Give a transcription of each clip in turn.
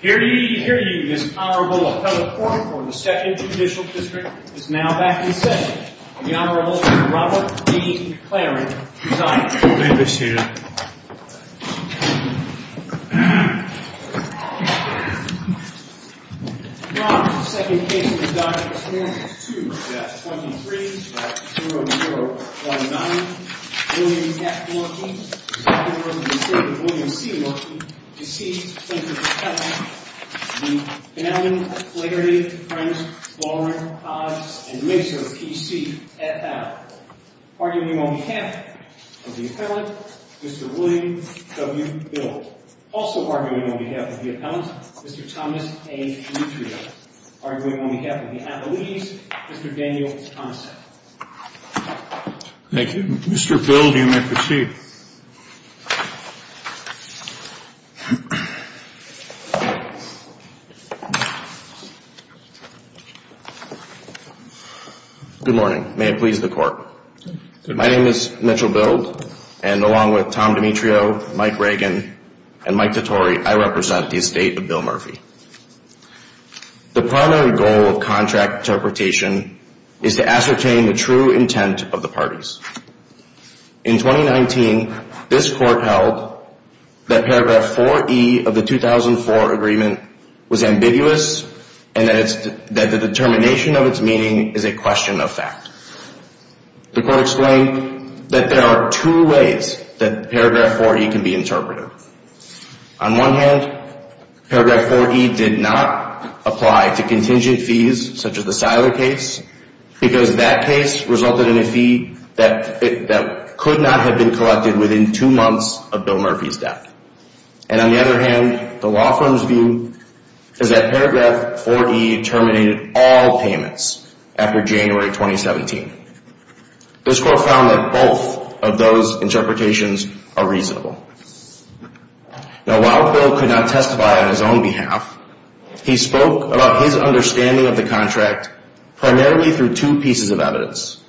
Hear ye, hear ye, Ms. Honorable Appellate Court for the 2nd Judicial District is now back in session. The Honorable Robert D. Claring, presiding. Now for the 2nd case of the day, case number 2, that's 23-0-0-1-9. William F. Murphy, presiding over the District. William C. Murphy, deceased, plaintiff's appellant. The Honorable Flaherty, Krentz, Loran, Hodge & Masur, P.C. Arguing on behalf of the appellant, Mr. William W. Bill. Also arguing on behalf of the appellant, Mr. Thomas A. Dutria. Arguing on behalf of the appellate, Mr. Daniel Thompson. Thank you. Mr. Bill, you may proceed. Thank you. Good morning. May it please the Court. My name is Mitchell Bild, and along with Tom Dimitrio, Mike Reagan, and Mike Dottori, I represent the estate of Bill Murphy. The primary goal of contract interpretation is to ascertain the true intent of the parties. In 2019, this Court held that paragraph 4E of the 2004 agreement was ambiguous, and that the determination of its meaning is a question of fact. The Court explained that there are two ways that paragraph 4E can be interpreted. On one hand, paragraph 4E did not apply to contingent fees, such as the Seiler case, because that case resulted in a fee that could not have been collected within two months of Bill Murphy's death. And on the other hand, the law firm's view is that paragraph 4E terminated all payments after January 2017. This Court found that both of those interpretations are reasonable. Now, while Bill could not testify on his own behalf, he spoke about his understanding of the contract primarily through two pieces of evidence.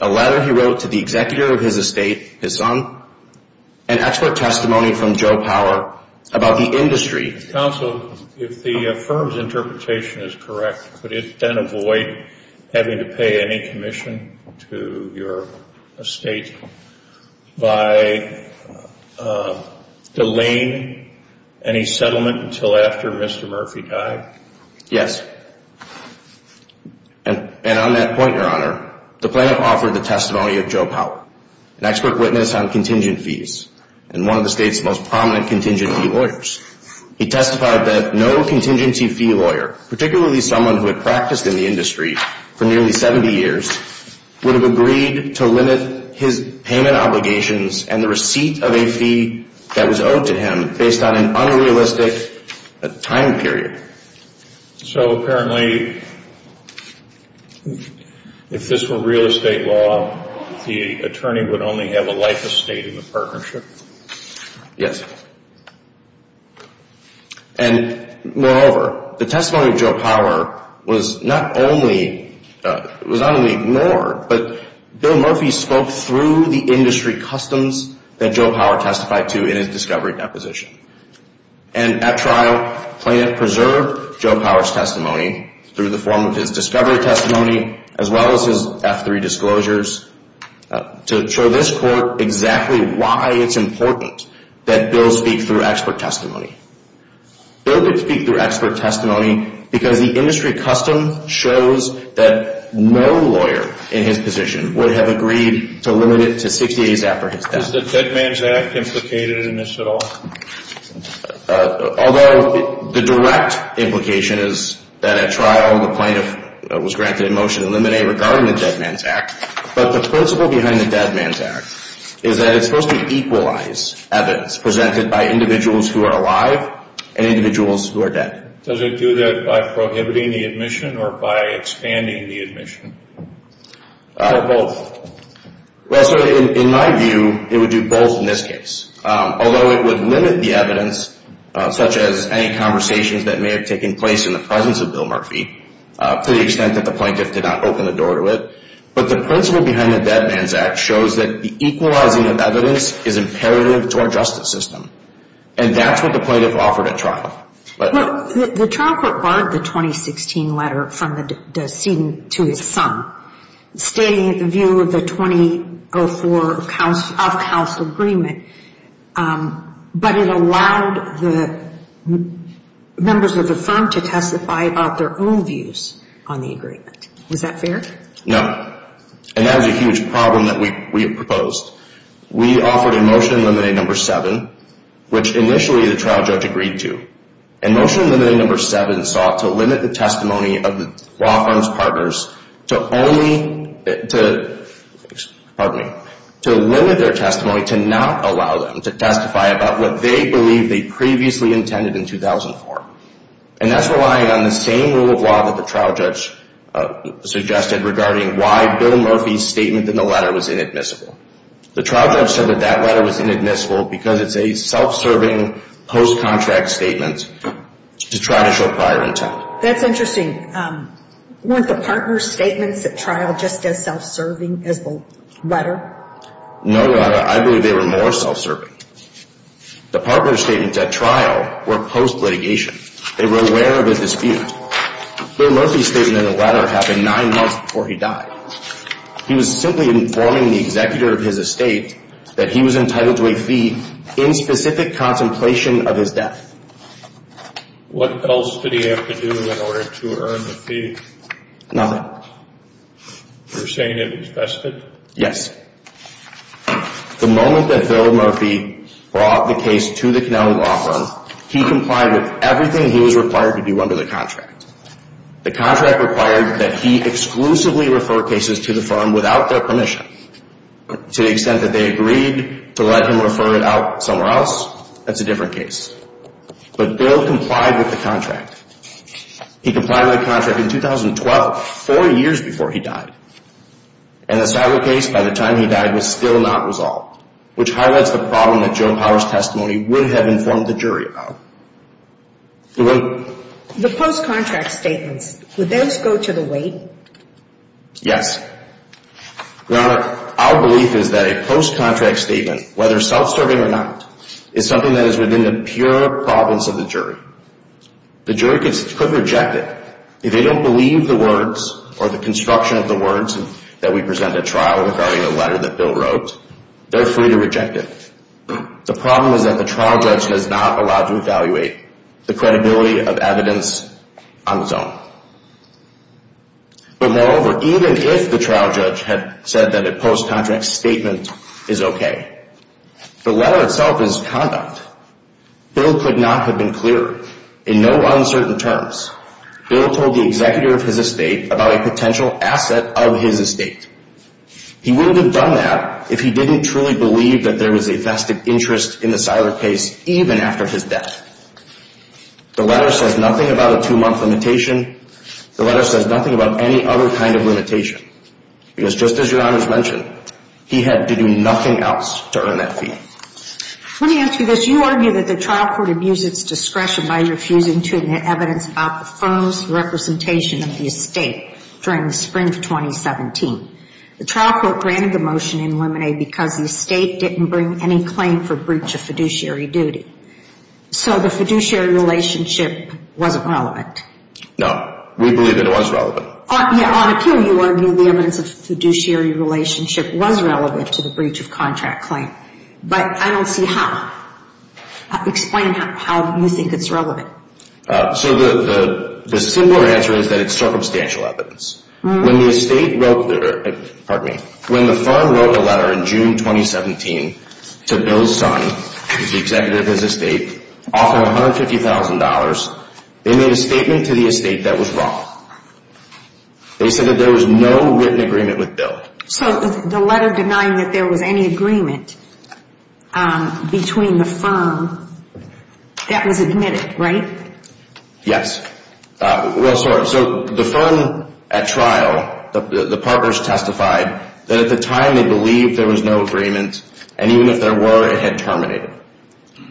A letter he wrote to the executor of his estate, his son, and expert testimony from Joe Power about the industry. Counsel, if the firm's interpretation is correct, could it then avoid having to pay any commission to your estate by delaying any settlement until after Mr. Murphy died? Yes. And on that point, Your Honor, the plaintiff offered the testimony of Joe Power, an expert witness on contingent fees and one of the state's most prominent contingency lawyers. He testified that no contingency fee lawyer, particularly someone who had practiced in the industry for nearly 70 years, would have agreed to limit his payment obligations and the receipt of a fee that was owed to him based on an unrealistic time period. So apparently, if this were real estate law, the attorney would only have a life estate in the partnership? Yes. And moreover, the testimony of Joe Power was not only ignored, but Bill Murphy spoke through the industry customs that Joe Power testified to in his discovery deposition. And at trial, the plaintiff preserved Joe Power's testimony through the form of his discovery testimony as well as his F3 disclosures to show this court exactly why it's important that Bill speak through expert testimony. Bill could speak through expert testimony because the industry custom shows that no lawyer in his position would have agreed to limit it to 60 days after his death. Is the Dead Man's Act implicated in this at all? Although the direct implication is that at trial the plaintiff was granted a motion to eliminate regarding the Dead Man's Act, but the principle behind the Dead Man's Act is that it's supposed to equalize evidence presented by individuals who are alive and individuals who are dead. Does it do that by prohibiting the admission or by expanding the admission? Or both? In my view, it would do both in this case. Although it would limit the evidence, such as any conversations that may have taken place in the presence of Bill Murphy, to the extent that the plaintiff did not open the door to it. But the principle behind the Dead Man's Act shows that the equalizing of evidence is imperative to our justice system. And that's what the plaintiff offered at trial. The trial court barred the 2016 letter from the decedent to his son, stating the view of the 2004 off-house agreement. But it allowed the members of the firm to testify about their own views on the agreement. Was that fair? No. And that is a huge problem that we have proposed. We offered a motion to eliminate number seven, which initially the trial judge agreed to. And motion to eliminate number seven sought to limit the testimony of the law firm's partners to only, to, pardon me, to limit their testimony to not allow them to testify about what they believe they previously intended in 2004. And that's relying on the same rule of law that the trial judge suggested regarding why Bill Murphy's statement in the letter was inadmissible. The trial judge said that that letter was inadmissible because it's a self-serving post-contract statement to try to show prior intent. That's interesting. Weren't the partners' statements at trial just as self-serving as the letter? No, I believe they were more self-serving. The partners' statements at trial were post-litigation. They were aware of a dispute. Bill Murphy's statement in the letter happened nine months before he died. He was simply informing the executor of his estate that he was entitled to a fee in specific contemplation of his death. What else did he have to do in order to earn the fee? Nothing. You're saying it was vested? Yes. The moment that Bill Murphy brought the case to the Connecticut law firm, he complied with everything he was required to do under the contract. The contract required that he exclusively refer cases to the firm without their permission. To the extent that they agreed to let him refer it out somewhere else, that's a different case. But Bill complied with the contract. He complied with the contract in 2012, four years before he died. And the cyber case by the time he died was still not resolved, which highlights the problem that Joe Power's testimony would have informed the jury about. The post-contract statements, would those go to the weight? Yes. Your Honor, our belief is that a post-contract statement, whether self-serving or not, is something that is within the pure province of the jury. The jury could reject it if they don't believe the words or the construction of the words that we present at trial regarding the letter that Bill wrote. They're free to reject it. The problem is that the trial judge is not allowed to evaluate the credibility of evidence on his own. But moreover, even if the trial judge had said that a post-contract statement is okay, the letter itself is conduct. Bill could not have been clearer. In no uncertain terms, Bill told the executor of his estate about a potential asset of his estate. He wouldn't have done that if he didn't truly believe that there was a vested interest in the cyber case even after his death. The letter says nothing about a two-month limitation. The letter says nothing about any other kind of limitation. Because just as Your Honor has mentioned, he had to do nothing else to earn that fee. Let me ask you this. You argue that the trial court abused its discretion by refusing to admit evidence about the firm's representation of the estate during the spring of 2017. The trial court granted the motion in limine because the estate didn't bring any claim for breach of fiduciary duty. So the fiduciary relationship wasn't relevant. No. We believe that it was relevant. On appeal, you argue the evidence of fiduciary relationship was relevant to the breach of contract claim. But I don't see how. Explain how you think it's relevant. So the simpler answer is that it's circumstantial evidence. When the firm wrote a letter in June 2017 to Bill's son, the executive of his estate, offering $150,000, they made a statement to the estate that was wrong. They said that there was no written agreement with Bill. So the letter denying that there was any agreement between the firm, that was admitted, right? Yes. Well, sorry. So the firm at trial, the partners testified that at the time they believed there was no agreement, and even if there were, it had terminated.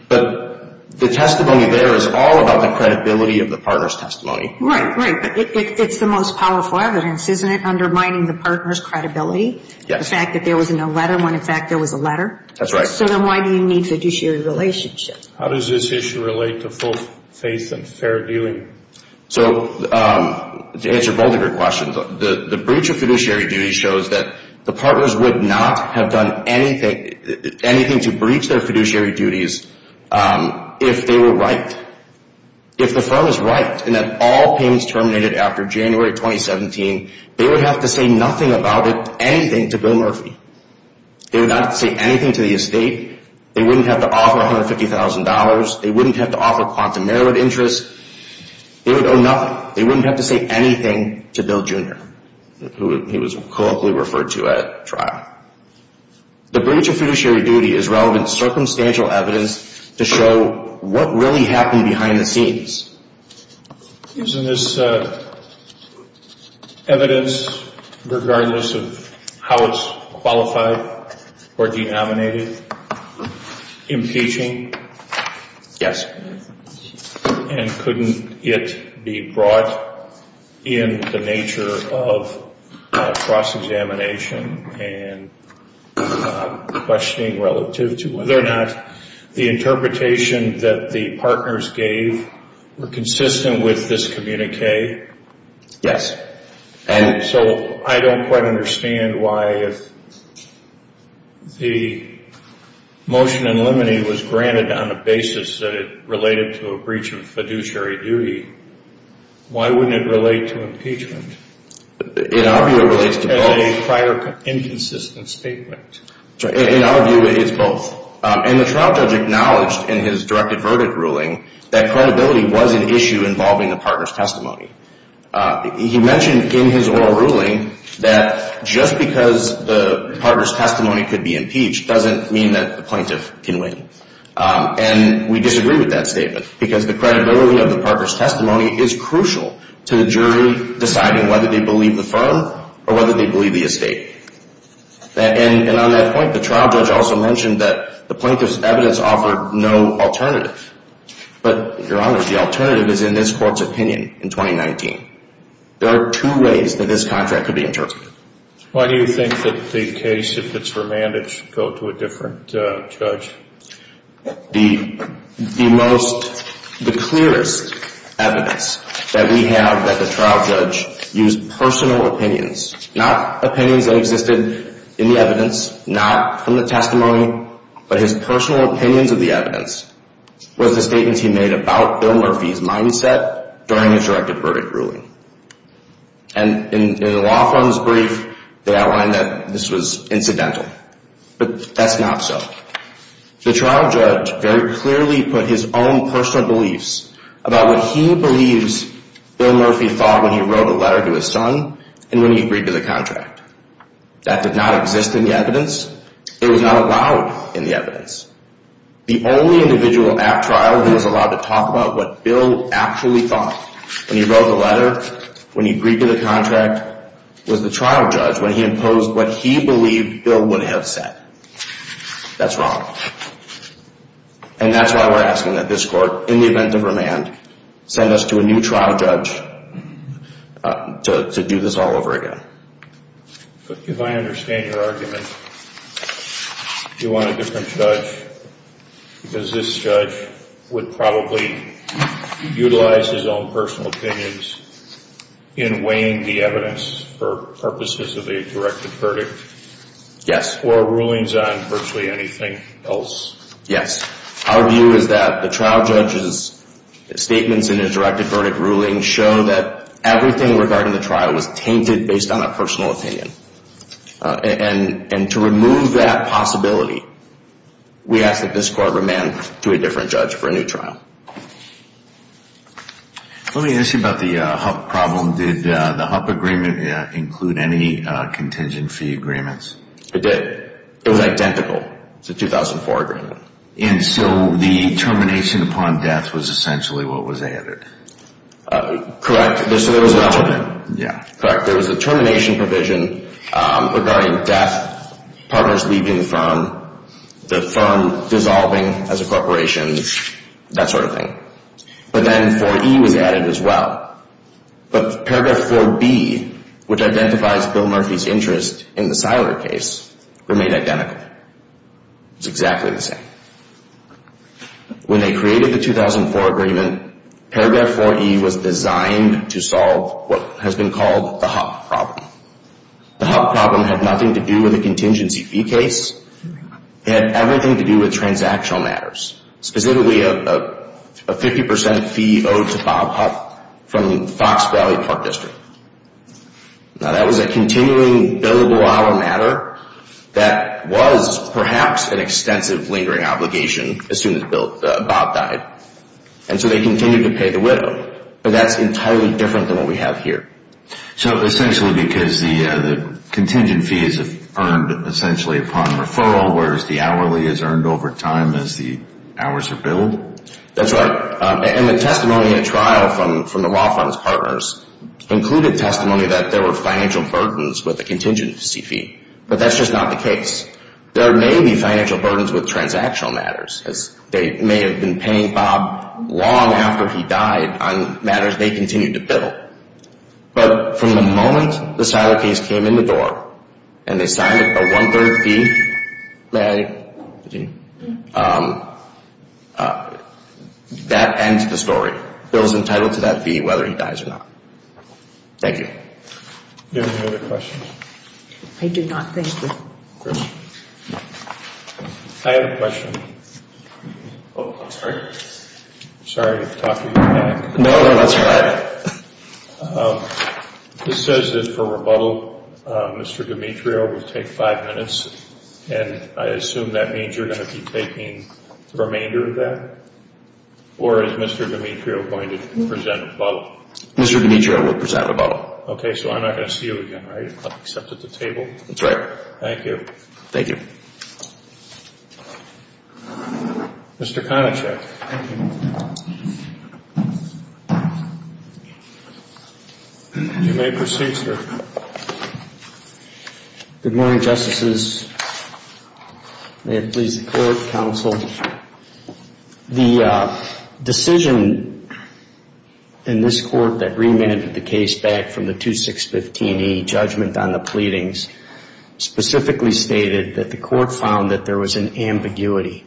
But the testimony there is all about the credibility of the partner's testimony. Right, right. But it's the most powerful evidence, isn't it, undermining the partner's credibility? Yes. The fact that there was no letter when, in fact, there was a letter. That's right. So then why do you need fiduciary relationship? How does this issue relate to full faith and fair dealing? So to answer both of your questions, the breach of fiduciary duty shows that the partners would not have done anything to breach their fiduciary duties if they were right. If the firm is right in that all payments terminated after January 2017, they would have to say nothing about it, anything, to Bill Murphy. They would not have to say anything to the estate. They wouldn't have to offer $150,000. They wouldn't have to offer quantum merit interest. They would owe nothing. They wouldn't have to say anything to Bill Jr., who he was colloquially referred to at trial. The breach of fiduciary duty is relevant circumstantial evidence to show what really happened behind the scenes. Isn't this evidence, regardless of how it's qualified or denominated, impeaching? Yes. And couldn't it be brought in the nature of cross-examination and questioning relative to whether or not the interpretation that the partners gave were consistent with this communique? Yes. So I don't quite understand why if the motion in limine was granted on a basis that it related to a breach of fiduciary duty, why wouldn't it relate to impeachment? In our view, it relates to both. As a prior inconsistent statement. In our view, it's both. And the trial judge acknowledged in his direct averted ruling that credibility was an issue involving the partner's testimony. He mentioned in his oral ruling that just because the partner's testimony could be impeached doesn't mean that the plaintiff can win. And we disagree with that statement because the credibility of the partner's testimony is crucial to the jury deciding whether they believe the firm or whether they believe the estate. And on that point, the trial judge also mentioned that the plaintiff's evidence offered no alternative. But, Your Honor, the alternative is in this court's opinion in 2019. There are two ways that this contract could be interpreted. Why do you think that the case, if it's remanded, should go to a different judge? The most, the clearest evidence that we have that the trial judge used personal opinions, not opinions that existed in the evidence, not from the testimony. But his personal opinions of the evidence was the statements he made about Bill Murphy's mindset during his direct averted ruling. And in the law firm's brief, they outlined that this was incidental. But that's not so. The trial judge very clearly put his own personal beliefs about what he believes Bill Murphy thought when he wrote a letter to his son and when he agreed to the contract. That did not exist in the evidence. It was not allowed in the evidence. The only individual at trial who was allowed to talk about what Bill actually thought when he wrote the letter, when he agreed to the contract, was the trial judge when he imposed what he believed Bill would have said. That's wrong. And that's why we're asking that this court, in the event of remand, send us to a new trial judge to do this all over again. But if I understand your argument, you want a different judge? Because this judge would probably utilize his own personal opinions in weighing the evidence for purposes of a directed verdict? Yes. Or rulings on virtually anything else? Yes. Our view is that the trial judge's statements in his directed verdict ruling show that everything regarding the trial was tainted based on a personal opinion. And to remove that possibility, we ask that this court remand to a different judge for a new trial. Let me ask you about the HUP problem. Did the HUP agreement include any contingent fee agreements? It did. It was identical. It's a 2004 agreement. And so the termination upon death was essentially what was added? Correct. So there was a termination provision regarding death, partners leaving the firm, the firm dissolving as a corporation, that sort of thing. But then 4E was added as well. But paragraph 4B, which identifies Bill Murphy's interest in the Siler case, remained identical. It was exactly the same. When they created the 2004 agreement, paragraph 4E was designed to solve what has been called the HUP problem. The HUP problem had nothing to do with a contingency fee case. It had everything to do with transactional matters. Specifically, a 50% fee owed to Bob HUP from Fox Valley Park District. Now, that was a continuing billable hour matter that was perhaps an extensive lingering obligation as soon as Bob died. And so they continued to pay the widow. But that's entirely different than what we have here. So essentially because the contingent fee is earned essentially upon referral, whereas the hourly is earned over time as the hours are billed? That's right. And the testimony at trial from the law firm's partners included testimony that there were financial burdens with the contingency fee. But that's just not the case. There may be financial burdens with transactional matters. They may have been paying Bob long after he died on matters they continued to bill. But from the moment the Siler case came in the door and they signed a one-third fee, that ends the story. Bill is entitled to that fee whether he dies or not. Thank you. Do you have any other questions? I do not, thank you. Chris? I have a question. Oh, I'm sorry. I'm sorry to talk to you again. No, that's all right. This says that for rebuttal, Mr. Demetrio will take five minutes. And I assume that means you're going to be taking the remainder of that? Or is Mr. Demetrio going to present rebuttal? Mr. Demetrio will present rebuttal. Okay, so I'm not going to see you again, right, except at the table? That's right. Thank you. Thank you. Mr. Konachek. You may proceed, sir. Good morning, Justices. May it please the Court, Counsel. The decision in this Court that remanded the case back from the 2615E judgment on the pleadings specifically stated that the Court found that there was an ambiguity.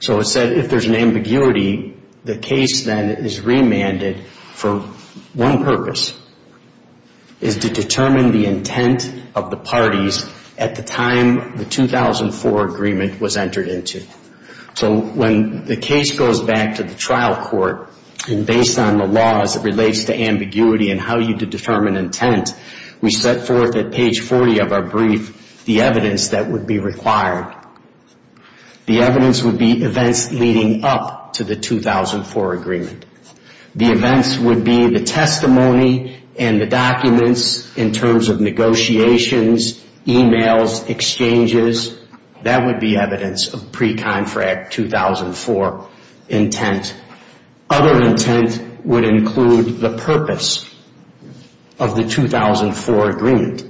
So it said if there's an ambiguity, the case then is remanded for one purpose, is to determine the intent of the parties at the time the 2004 agreement was entered into. So when the case goes back to the trial court, and based on the laws, it relates to ambiguity and how you determine intent, we set forth at page 40 of our brief the evidence that would be required. The evidence would be events leading up to the 2004 agreement. The events would be the testimony and the documents in terms of negotiations, emails, exchanges. That would be evidence of pre-contract 2004 intent. Other intent would include the purpose of the 2004 agreement.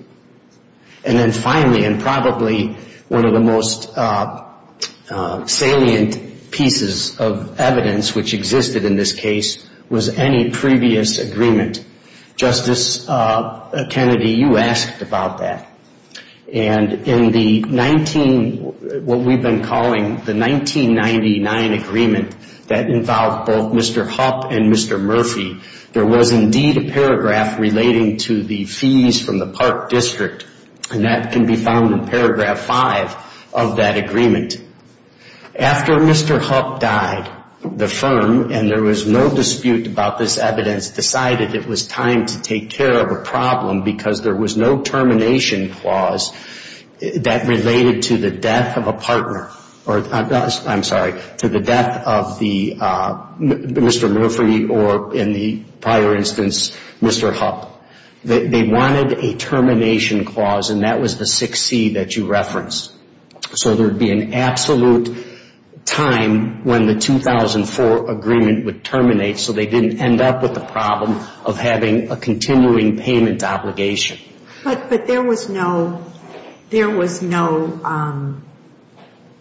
And then finally, and probably one of the most salient pieces of evidence which existed in this case, was any previous agreement. Justice Kennedy, you asked about that. And in the 19, what we've been calling the 1999 agreement that involved both Mr. Hupp and Mr. Murphy, there was indeed a paragraph relating to the fees from the Park District. And that can be found in paragraph 5 of that agreement. After Mr. Hupp died, the firm, and there was no dispute about this evidence, decided it was time to take care of a problem because there was no termination clause that related to the death of a partner. I'm sorry, to the death of Mr. Murphy or, in the prior instance, Mr. Hupp. They wanted a termination clause, and that was the 6C that you referenced. So there would be an absolute time when the 2004 agreement would terminate so they didn't end up with the problem of having a continuing payment obligation. But there was no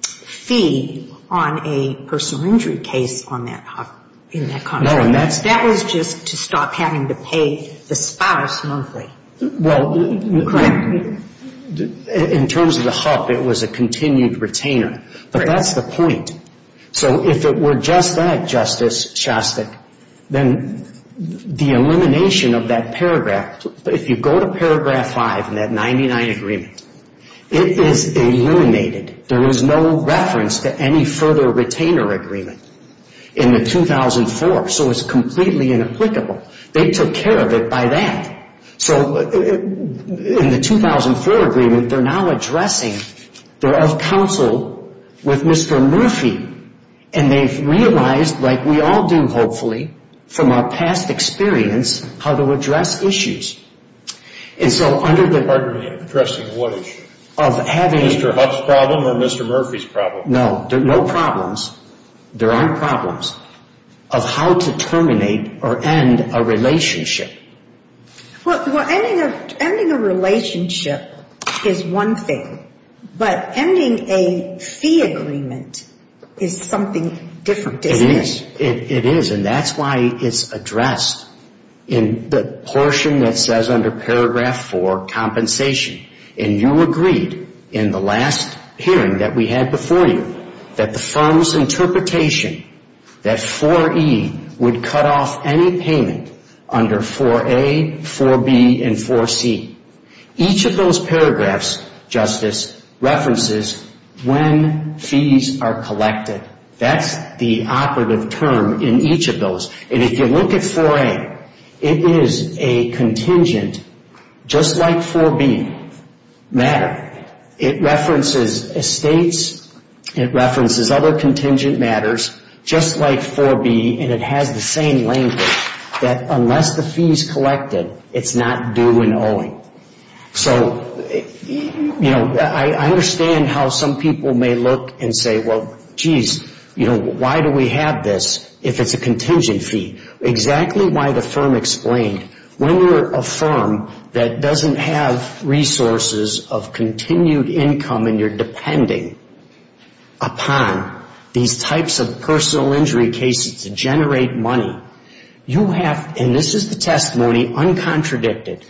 fee on a personal injury case on that, in that contract. No, and that's That was just to stop having to pay the spouse monthly. Well, in terms of the Hupp, I thought it was a continued retainer, but that's the point. So if it were just that, Justice Shostak, then the elimination of that paragraph, if you go to paragraph 5 in that 99 agreement, it is eliminated. There is no reference to any further retainer agreement in the 2004, so it's completely inapplicable. They took care of it by that. So in the 2004 agreement, they're now addressing, they're of counsel with Mr. Murphy, and they've realized, like we all do, hopefully, from our past experience, how to address issues. And so under the Pardon me, addressing what issue? Of having Mr. Hupp's problem or Mr. Murphy's problem? No, no problems. There aren't problems of how to terminate or end a relationship. Well, ending a relationship is one thing, but ending a fee agreement is something different, isn't it? It is, and that's why it's addressed in the portion that says under paragraph 4, compensation. And you agreed in the last hearing that we had before you that the firm's interpretation that 4E would cut off any payment under 4A, 4B, and 4C. Each of those paragraphs, Justice, references when fees are collected. That's the operative term in each of those. And if you look at 4A, it is a contingent, just like 4B, matter. It references estates, it references other contingent matters, just like 4B, and it has the same language, that unless the fee is collected, it's not due and owing. So, you know, I understand how some people may look and say, well, geez, you know, why do we have this if it's a contingent fee? Exactly why the firm explained, when you're a firm that doesn't have resources of continued income and you're depending upon these types of personal injury cases to generate money, you have, and this is the testimony uncontradicted,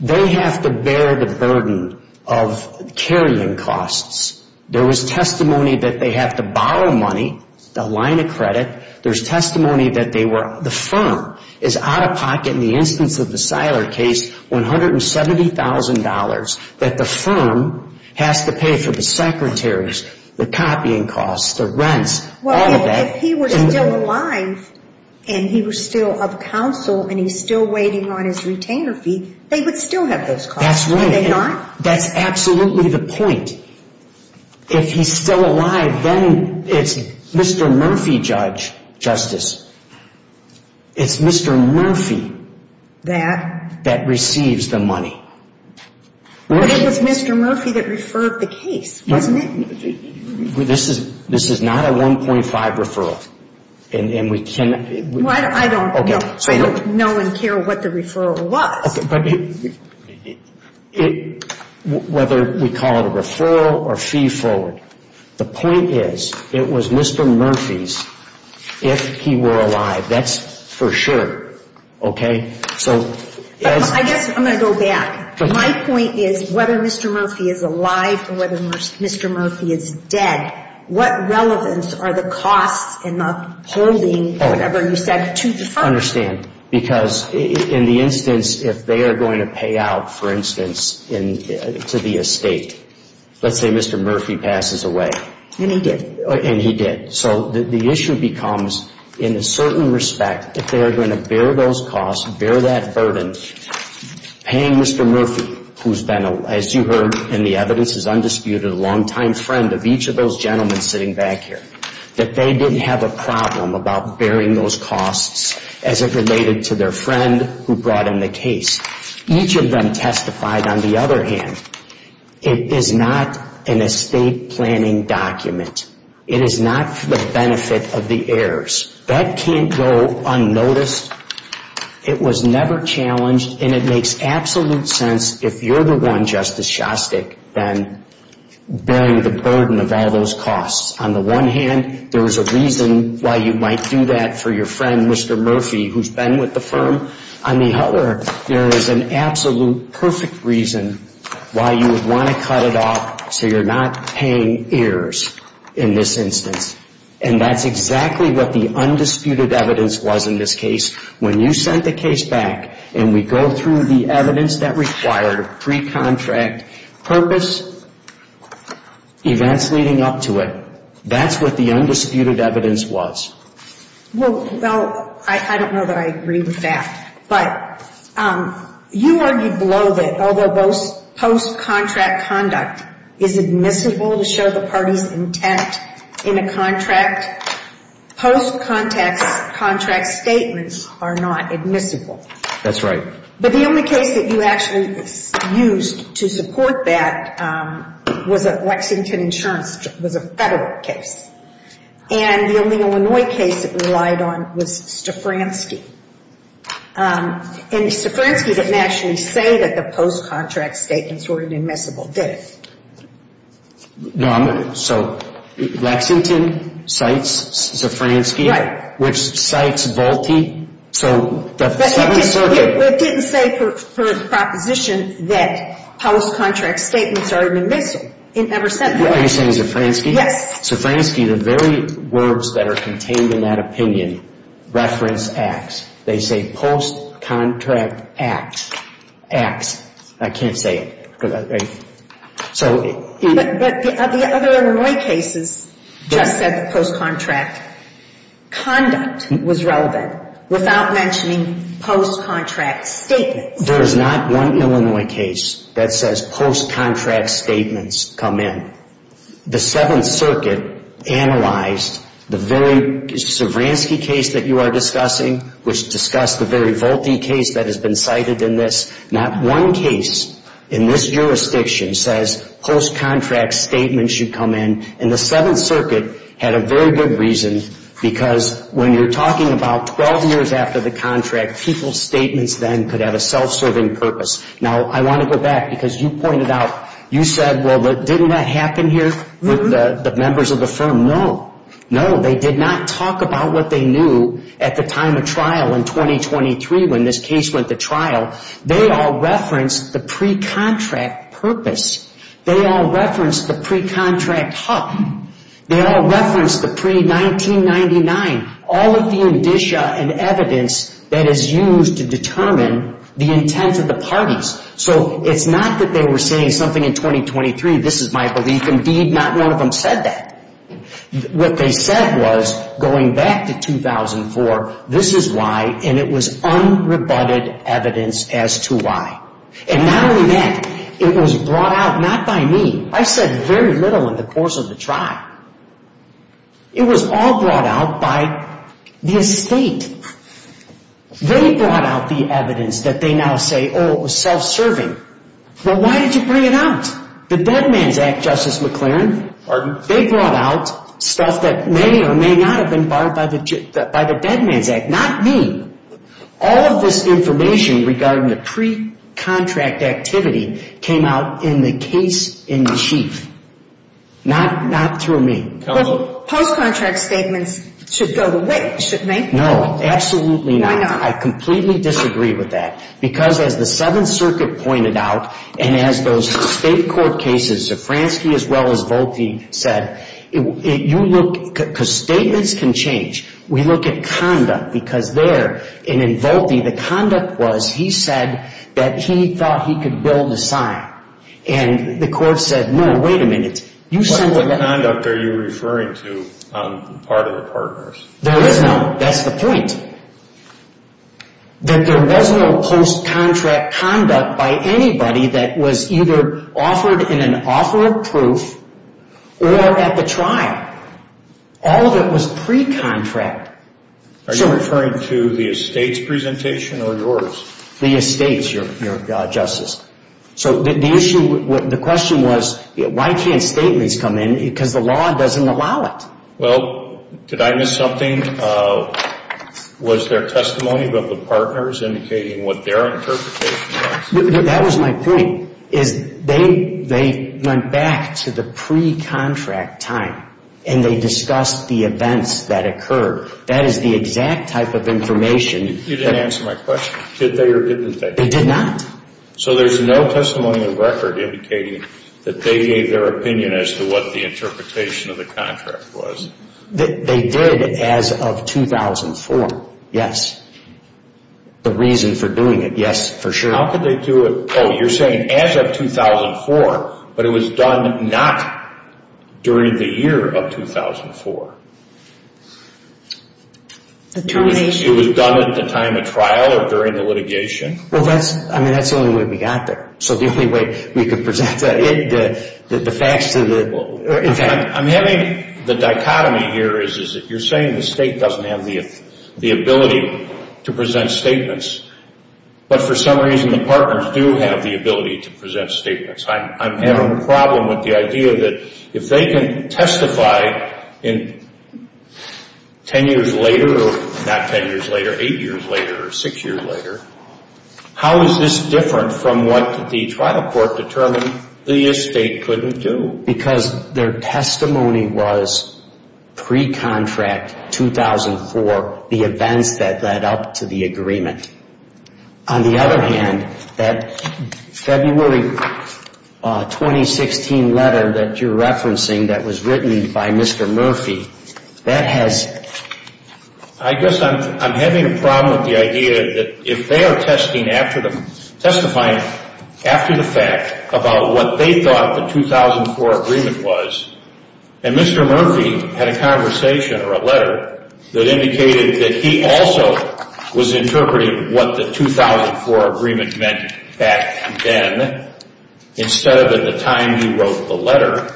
they have to bear the burden of carrying costs. There was testimony that they have to borrow money, the line of credit. There's testimony that they were, the firm is out of pocket in the instance of the Seiler case, $170,000 that the firm has to pay for the secretaries, the copying costs, the rents, all of that. Well, if he were still alive and he was still of counsel and he's still waiting on his retainer fee, they would still have those costs, would they not? That's right. That's absolutely the point. If he's still alive, then it's Mr. Murphy, Judge, Justice, it's Mr. Murphy that receives the money. But it was Mr. Murphy that referred the case, wasn't it? This is not a 1.5 referral. I don't know and care what the referral was. Whether we call it a referral or fee forward, the point is it was Mr. Murphy's if he were alive. That's for sure, okay? I guess I'm going to go back. My point is whether Mr. Murphy is alive or whether Mr. Murphy is dead, what relevance are the costs and the holding, whatever you said, to the firm? I understand. Because in the instance, if they are going to pay out, for instance, to the estate, let's say Mr. Murphy passes away. And he did. And he did. So the issue becomes, in a certain respect, if they are going to bear those costs, bear that burden, paying Mr. Murphy, who's been, as you heard in the evidence, is undisputed a longtime friend of each of those gentlemen sitting back here, that they didn't have a problem about bearing those costs as it related to their friend who brought in the case. Each of them testified, on the other hand, it is not an estate planning document. It is not for the benefit of the heirs. That can't go unnoticed. It was never challenged, and it makes absolute sense, if you're the one, Justice Shostak, then bearing the burden of all those costs. On the one hand, there is a reason why you might do that for your friend, Mr. Murphy, who's been with the firm. On the other, there is an absolute perfect reason why you would want to cut it off so you're not paying heirs in this instance. And that's exactly what the undisputed evidence was in this case. When you sent the case back and we go through the evidence that required pre-contract purpose, events leading up to it, that's what the undisputed evidence was. Well, I don't know that I agree with that. But you argued below that although post-contract conduct is admissible to show the party's intent in a contract, post-contract statements are not admissible. That's right. But the only case that you actually used to support that was at Lexington Insurance. It was a federal case. And the only Illinois case it relied on was Stafranski. And Stafranski didn't actually say that the post-contract statements were an admissible, did it? No. So Lexington cites Stafranski. Right. Which cites Volpe. So the Seventh Circuit. It didn't say per proposition that post-contract statements are admissible. It never said that. Are you saying Stafranski? Yes. Stafranski, the very words that are contained in that opinion reference acts. They say post-contract act, acts. I can't say it. But the other Illinois cases just said post-contract conduct was relevant without mentioning post-contract statements. There is not one Illinois case that says post-contract statements come in. The Seventh Circuit analyzed the very Stafranski case that you are discussing, which discussed the very Volpe case that has been cited in this. Not one case in this jurisdiction says post-contract statements should come in. And the Seventh Circuit had a very good reason because when you're talking about 12 years after the contract, people's statements then could have a self-serving purpose. Now, I want to go back because you pointed out, you said, well, didn't that happen here with the members of the firm? No. No, they did not talk about what they knew at the time of trial in 2023 when this case went to trial. They all referenced the pre-contract purpose. They all referenced the pre-contract HUC. They all referenced the pre-1999. All of the indicia and evidence that is used to determine the intent of the parties. So it's not that they were saying something in 2023, this is my belief. Indeed, not one of them said that. What they said was going back to 2004, this is why, and it was unrebutted evidence as to why. And not only that, it was brought out not by me. I said very little in the course of the trial. It was all brought out by the estate. They brought out the evidence that they now say, oh, it was self-serving. Well, why did you bring it out? The Dead Man's Act, Justice McClaren. Pardon? They brought out stuff that may or may not have been barred by the Dead Man's Act. Not me. All of this information regarding the pre-contract activity came out in the case in chief. Not through me. Post-contract statements should go away, shouldn't they? No, absolutely not. Why not? I completely disagree with that because, as the Seventh Circuit pointed out, and as those state court cases, Zafransky as well as Volpe said, you look, because statements can change, we look at conduct because there, and in Volpe, the conduct was he said that he thought he could build a sign, and the court said, no, wait a minute, you said that. What kind of conduct are you referring to on the part of the partners? There is no, that's the point, that there was no post-contract conduct by anybody that was either offered in an offer of proof or at the trial. All of it was pre-contract. Are you referring to the estates presentation or yours? The estates, Your Justice. So the issue, the question was, why can't statements come in? Because the law doesn't allow it. Well, did I miss something? Was there testimony about the partners indicating what their interpretation was? That was my point, is they went back to the pre-contract time and they discussed the events that occurred. That is the exact type of information. You didn't answer my question. Did they or didn't they? They did not. So there's no testimony in record indicating that they gave their opinion as to what the interpretation of the contract was. They did as of 2004, yes. The reason for doing it, yes, for sure. How could they do it? Oh, you're saying as of 2004, but it was done not during the year of 2004. It was done at the time of trial or during the litigation? Well, that's the only way we got there. So the only way we could present the facts to the… I'm having the dichotomy here, is that you're saying the state doesn't have the ability to present statements, but for some reason the partners do have the ability to present statements. I'm having a problem with the idea that if they can testify 10 years later, not 10 years later, 8 years later or 6 years later, how is this different from what the trial court determined the estate couldn't do? Because their testimony was pre-contract 2004, the events that led up to the agreement. On the other hand, that February 2016 letter that you're referencing that was written by Mr. Murphy, that has… I guess I'm having a problem with the idea that if they are testifying after the fact about what they thought the 2004 agreement was, and Mr. Murphy had a conversation or a letter that indicated that he also was interpreting what the 2004 agreement meant back then instead of at the time he wrote the letter,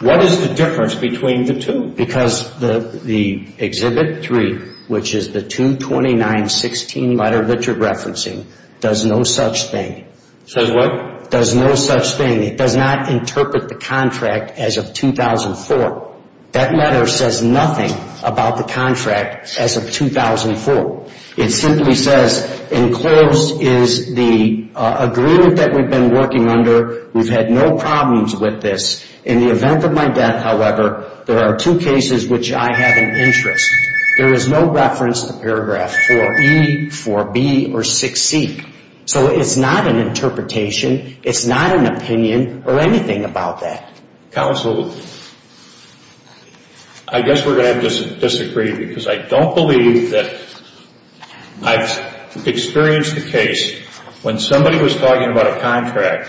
what is the difference between the two? Because the Exhibit 3, which is the 229-16 letter that you're referencing, does no such thing. Says what? Does no such thing. It does not interpret the contract as of 2004. That letter says nothing about the contract as of 2004. It simply says enclosed is the agreement that we've been working under. We've had no problems with this. In the event of my death, however, there are two cases which I have an interest. There is no reference to paragraph 4E, 4B, or 6C. So it's not an interpretation. It's not an opinion or anything about that. Counsel, I guess we're going to have to disagree because I don't believe that I've experienced a case when somebody was talking about a contract,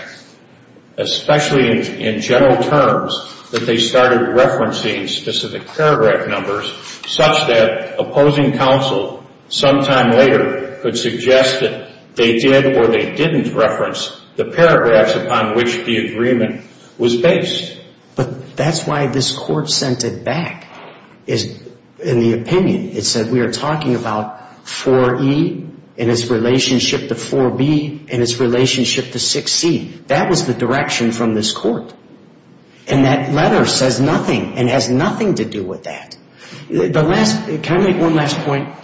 especially in general terms, that they started referencing specific paragraph numbers such that opposing counsel sometime later could suggest that they did or they didn't reference the paragraphs upon which the agreement was based. But that's why this Court sent it back in the opinion. It said we are talking about 4E and its relationship to 4B and its relationship to 6C. That was the direction from this Court. And that letter says nothing and has nothing to do with that. Can I make one last point?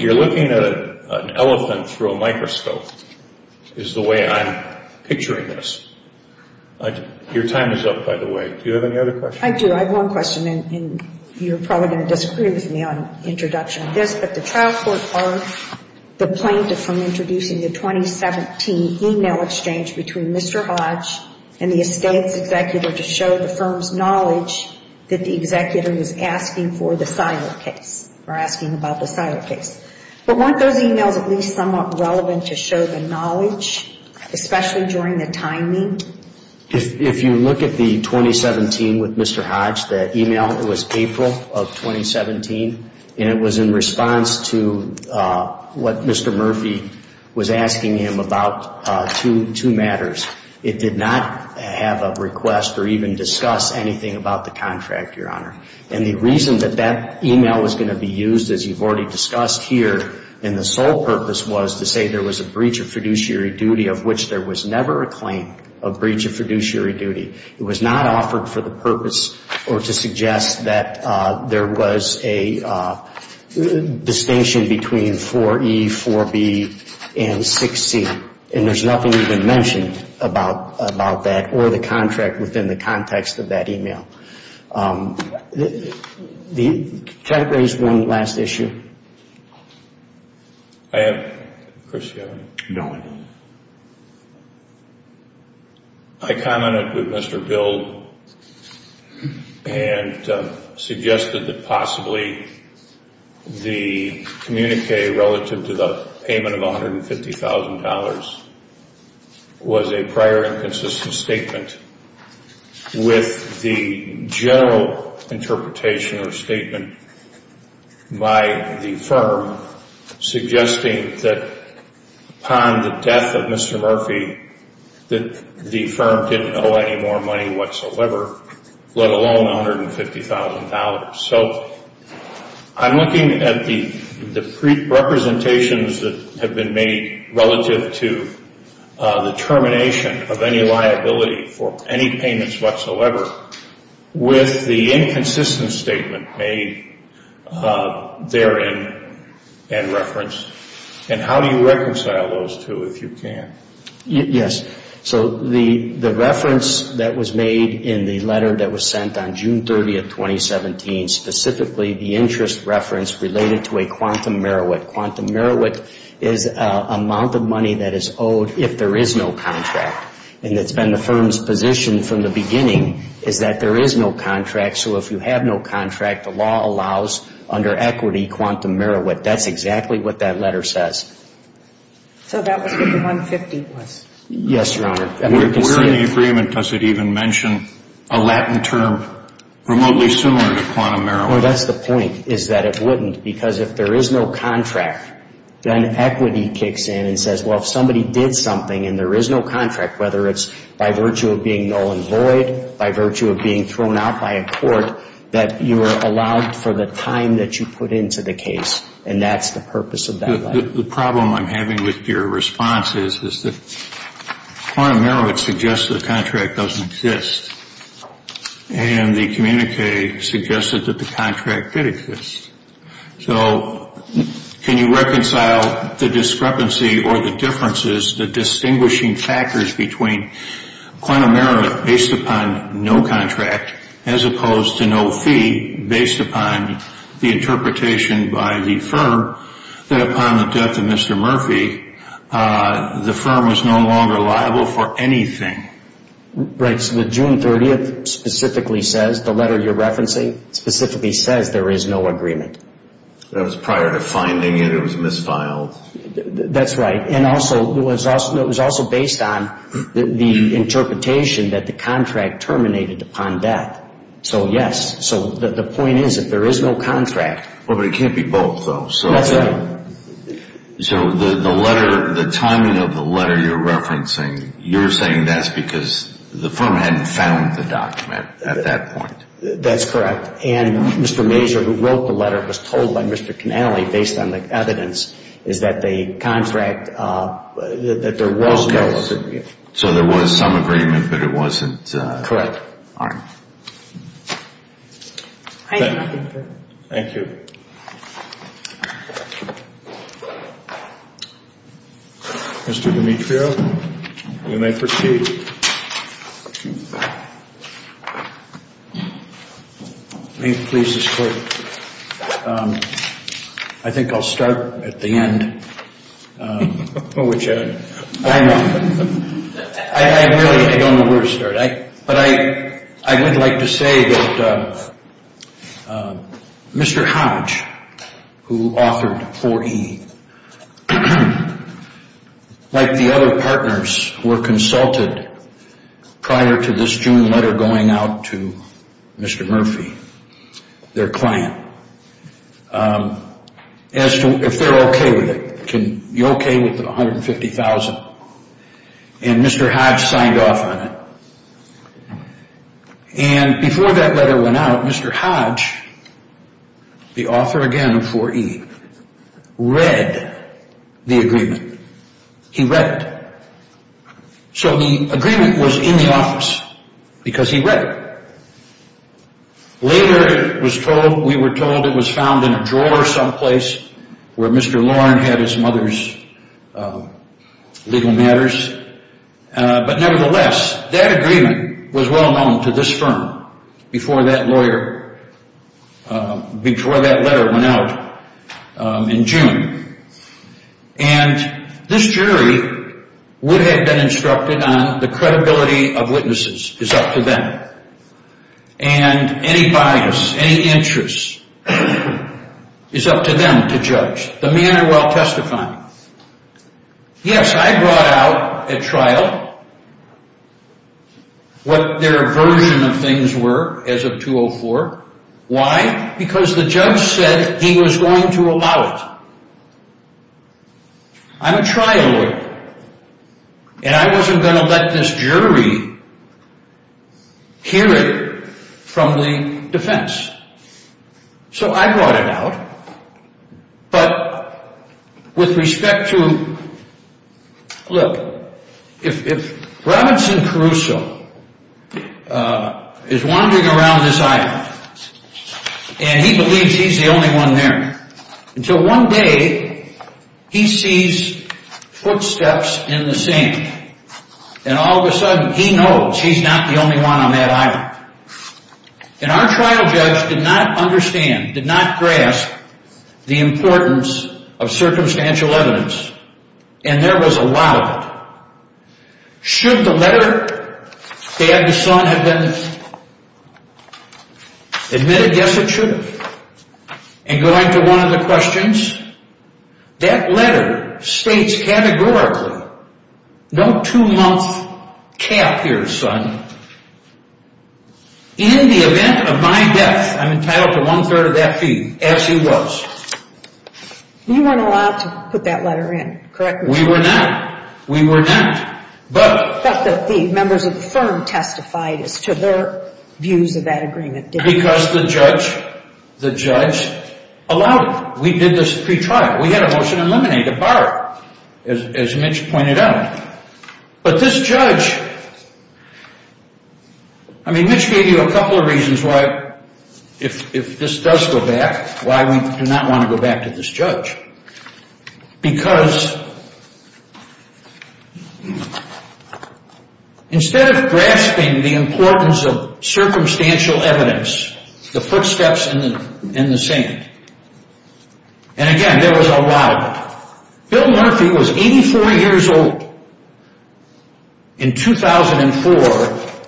You're looking at an elephant through a microscope is the way I'm picturing this. Your time is up, by the way. Do you have any other questions? I do. I have one question, and you're probably going to disagree with me on introduction of this, but the trial court barred the plaintiff from introducing the 2017 e-mail exchange between Mr. Hodge and the estate's executor to show the firm's knowledge that the executor was asking for the Seiler case or asking about the Seiler case. But weren't those e-mails at least somewhat relevant to show the knowledge, especially during the timing? If you look at the 2017 with Mr. Hodge, the e-mail was April of 2017, and it was in response to what Mr. Murphy was asking him about two matters. It did not have a request or even discuss anything about the contract, Your Honor. And the reason that that e-mail was going to be used, as you've already discussed here, and the sole purpose was to say there was a breach of fiduciary duty of which there was never a claim of breach of fiduciary duty. It was not offered for the purpose or to suggest that there was a distinction between 4E, 4B, and 6C, and there's nothing even mentioned about that in the e-mail. Can I raise one last issue? I have, Chris, do you have any? No, I don't. I commented with Mr. Bild and suggested that possibly the communique relative to the payment of $150,000 was a prior inconsistent statement with the general interpretation or statement by the firm suggesting that upon the death of Mr. Murphy, that the firm didn't owe any more money whatsoever, let alone $150,000. So I'm looking at the representations that have been made relative to the termination of any liability for any payments whatsoever with the inconsistent statement made therein and referenced. And how do you reconcile those two, if you can? Yes. So the reference that was made in the letter that was sent on June 30, 2017, specifically the interest reference related to a quantum merit. Quantum merit is amount of money that is owed if there is no contract. And it's been the firm's position from the beginning is that there is no contract, so if you have no contract, the law allows under equity quantum merit. That's exactly what that letter says. So that was what the $150,000 was? Yes, Your Honor. Where in the agreement does it even mention a Latin term remotely similar to quantum merit? Well, that's the point is that it wouldn't because if there is no contract, then equity kicks in and says, well, if somebody did something and there is no contract, whether it's by virtue of being null and void, by virtue of being thrown out by a court, that you are allowed for the time that you put into the case, and that's the purpose of that letter. The problem I'm having with your response is that quantum merit suggests the contract doesn't exist, and the communique suggested that the contract did exist. So can you reconcile the discrepancy or the differences, the distinguishing factors between quantum merit based upon no contract as opposed to no fee based upon the interpretation by the firm that upon the death of Mr. Murphy, the firm was no longer liable for anything? Right. So the June 30th specifically says, the letter you're referencing specifically says there is no agreement. That was prior to finding it. It was misfiled. That's right. And it was also based on the interpretation that the contract terminated upon death. So, yes. So the point is that there is no contract. Well, but it can't be both, though. That's right. So the letter, the timing of the letter you're referencing, you're saying that's because the firm hadn't found the document at that point. That's correct. And Mr. Major, who wrote the letter, was told by Mr. Canale, based on the evidence, is that the contract, that there was no agreement. So there was some agreement, but it wasn't? Correct. All right. Thank you. Thank you. Mr. Demetrio, you may proceed. May it please this Court, I think I'll start at the end, which I really don't know where to start. But I would like to say that Mr. Hodge, who authored 4E, like the other partners who were consulted prior to this June letter going out to Mr. Murphy, their client, as to if they're okay with it. Can you be okay with the $150,000? And Mr. Hodge signed off on it. And before that letter went out, Mr. Hodge, the author again of 4E, read the agreement. He read it. So the agreement was in the office because he read it. Later, we were told it was found in a drawer someplace where Mr. Loren had his mother's legal matters. But nevertheless, that agreement was well known to this firm before that letter went out in June. And this jury would have been instructed on the credibility of witnesses. It's up to them. And any bias, any interest is up to them to judge. The men are well testified. Yes, I brought out at trial what their version of things were as of 2004. Why? Because the judge said he was going to allow it. I'm a trial lawyer, and I wasn't going to let this jury hear it from the defense. So I brought it out. But with respect to, look, if Robinson Caruso is wandering around this island, and he believes he's the only one there, until one day, he sees footsteps in the sand. And all of a sudden, he knows he's not the only one on that island. And our trial judge did not understand, did not grasp the importance of circumstantial evidence. And there was a lot of it. Should the letter that the son had been admitted, yes, it should have. And going to one of the questions, that letter states categorically, no two-month cap here, son. In the event of my death, I'm entitled to one-third of that fee, as he was. You weren't allowed to put that letter in, correct me if I'm wrong. We were not. We were not. But the members of the firm testified as to their views of that agreement. Because the judge allowed it. We did this pre-trial. We had a motion to eliminate, to borrow, as Mitch pointed out. But this judge, I mean, Mitch gave you a couple of reasons why, if this does go back, why we do not want to go back to this judge. Because instead of grasping the importance of circumstantial evidence, the footsteps in the sand. And again, there was a lot of it. Bill Murphy was 84 years old in 2004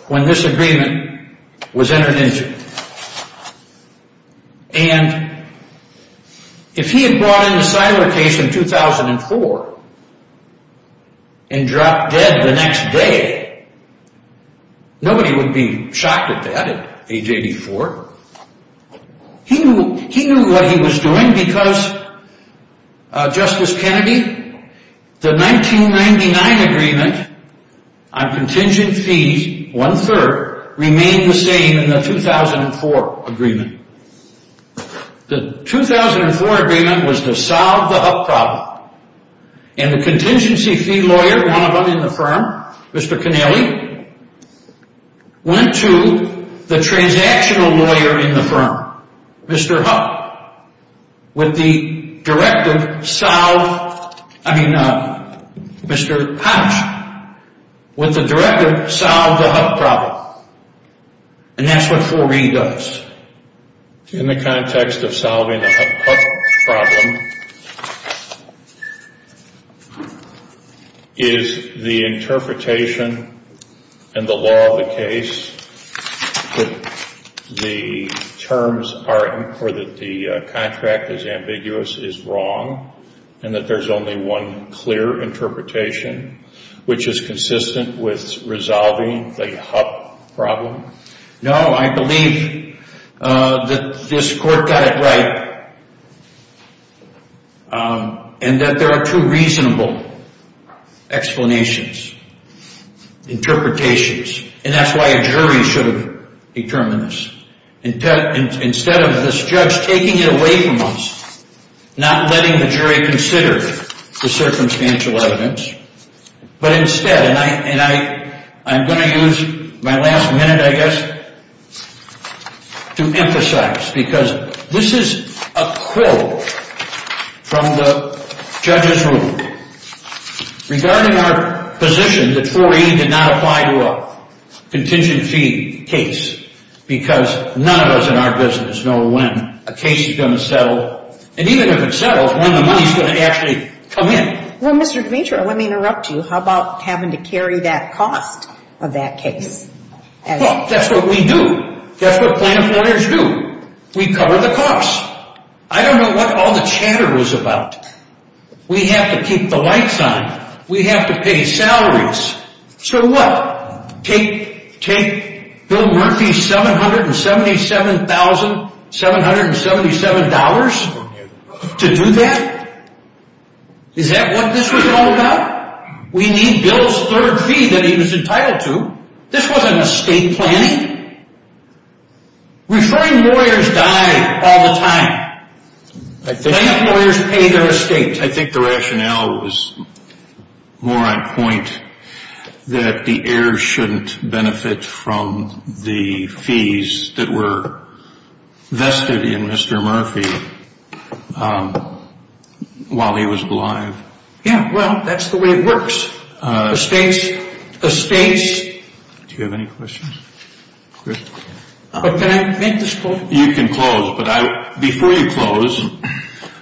when this agreement was entered into. And if he had brought in the Siler case in 2004 and dropped dead the next day, nobody would be shocked at that at age 84. He knew what he was doing because, Justice Kennedy, the 1999 agreement on contingent fees, one-third, remained the same in the 2004 agreement. The 2004 agreement was to solve the Huck problem. And the contingency fee lawyer, one of them in the firm, Mr. Connelly, went to the transactional lawyer in the firm, Mr. Huck, with the directive, solve, I mean, Mr. Houch, with the directive, solve the Huck problem. And that's what 4E does. In the context of solving the Huck problem, is the interpretation and the law of the case that the terms are, or that the contract is ambiguous is wrong and that there's only one clear interpretation, which is consistent with resolving the Huck problem? No, I believe that this court got it right and that there are two reasonable explanations, interpretations. And that's why a jury should determine this. Instead of this judge taking it away from us, not letting the jury consider the circumstantial evidence, but instead, and I'm going to use my last minute, I guess, to emphasize, because this is a quote from the judge's rule regarding our position that 4E did not apply to a contingency case because none of us in our business know when a case is going to settle. And even if it settles, when the money is going to actually come in. Well, Mr. Demetrio, let me interrupt you. How about having to carry that cost of that case? Well, that's what we do. That's what plaintiff lawyers do. We cover the cost. I don't know what all the chatter was about. We have to keep the lights on. We have to pay salaries. So what? Take Bill Murphy's $777,777 to do that? Is that what this was all about? We need Bill's third fee that he was entitled to. This wasn't estate planning. Referring lawyers die all the time. Plaintiff lawyers pay their estate. I think the rationale was more on point that the heirs shouldn't benefit from the fees that were vested in Mr. Murphy while he was alive. Yeah, well, that's the way it works. Estates. Estates. Do you have any questions? Can I make this point? You can close, but before you close,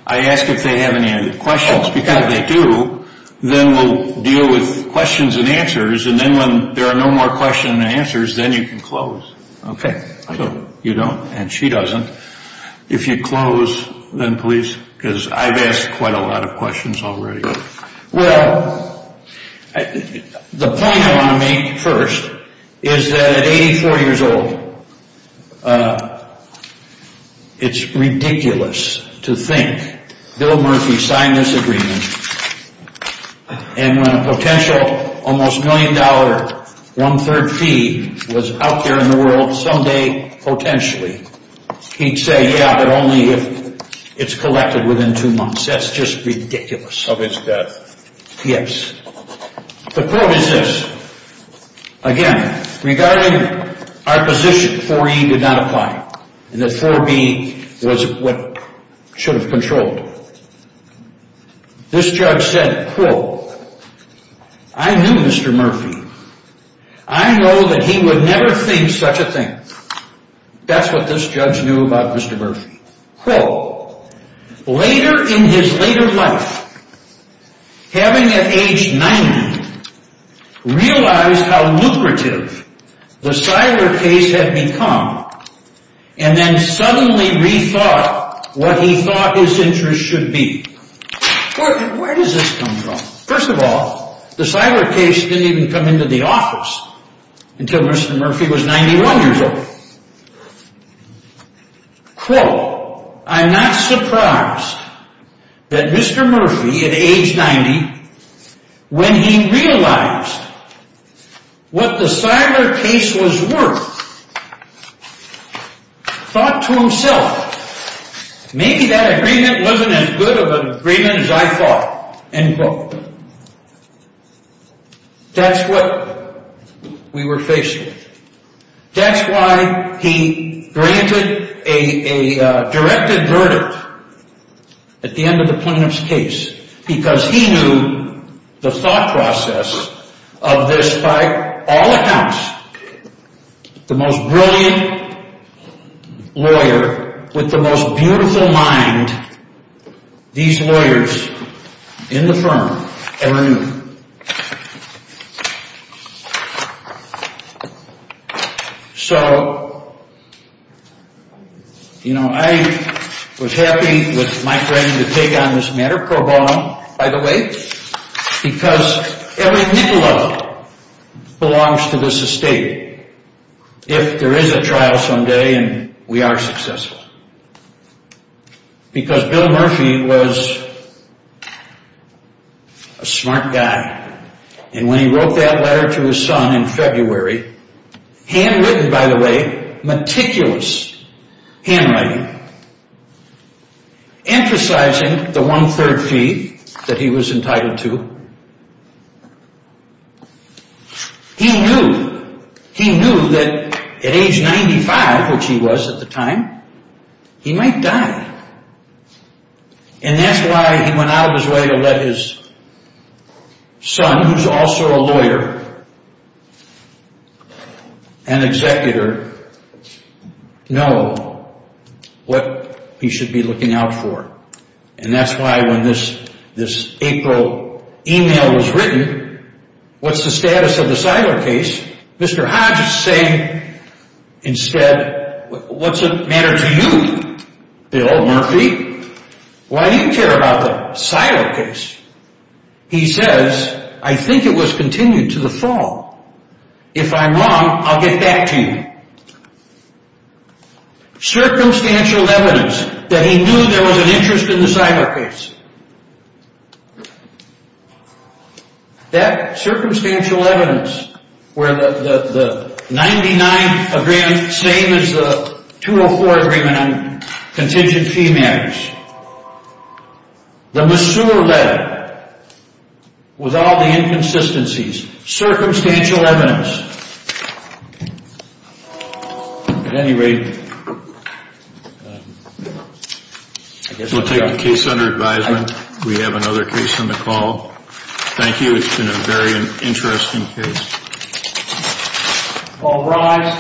I ask if they have any questions. Because if they do, then we'll deal with questions and answers. And then when there are no more questions and answers, then you can close. Okay. You don't, and she doesn't. If you close, then please, because I've asked quite a lot of questions already. Well, the point I want to make first is that at 84 years old, it's ridiculous to think Bill Murphy signed this agreement, and when a potential almost million dollar one-third fee was out there in the world someday potentially, he'd say, yeah, but only if it's collected within two months. That's just ridiculous. Of his death. Yes. The quote is this. Again, regarding our position, 4E did not apply, and that 4B was what should have controlled it. This judge said, quote, I knew Mr. Murphy. I know that he would never think such a thing. That's what this judge knew about Mr. Murphy. Quote, later in his later life, having at age 90, realized how lucrative the Siler case had become, and then suddenly rethought what he thought his interests should be. Where does this come from? First of all, the Siler case didn't even come into the office until Mr. Murphy was 91 years old. Quote, I'm not surprised that Mr. Murphy, at age 90, when he realized what the Siler case was worth, thought to himself, maybe that agreement wasn't as good of an agreement as I thought. End quote. That's what we were facing. That's why he granted a directed verdict at the end of the plaintiff's case. Because he knew the thought process of this by all accounts. The most brilliant lawyer with the most beautiful mind these lawyers in the firm ever knew. So, you know, I was happy with my friend to take on this matter, Cobalt, by the way, because every nickel of it belongs to this estate. If there is a trial someday, and we are successful. Because Bill Murphy was a smart guy. And when he wrote that letter to his son in February, handwritten, by the way, meticulous handwriting. Emphasizing the one third fee that he was entitled to. He knew, he knew that at age 95, which he was at the time, he might die. And that's why he went out of his way to let his son, who is also a lawyer, an executor, know what he should be looking out for. And that's why when this April email was written, what's the status of the Siler case, Mr. Hodge is saying, instead, what's the matter to you, Bill Murphy? Why do you care about the Siler case? He says, I think it was continued to the fall. If I'm wrong, I'll get back to you. Circumstantial evidence that he knew there was an interest in the Siler case. That circumstantial evidence, where the 99th agreement, same as the 204 agreement on contingent fee matters. The Messure letter, with all the inconsistencies. Circumstantial evidence. At any rate, we'll take the case under advisement. We have another case on the call. Thank you, it's been a very interesting case.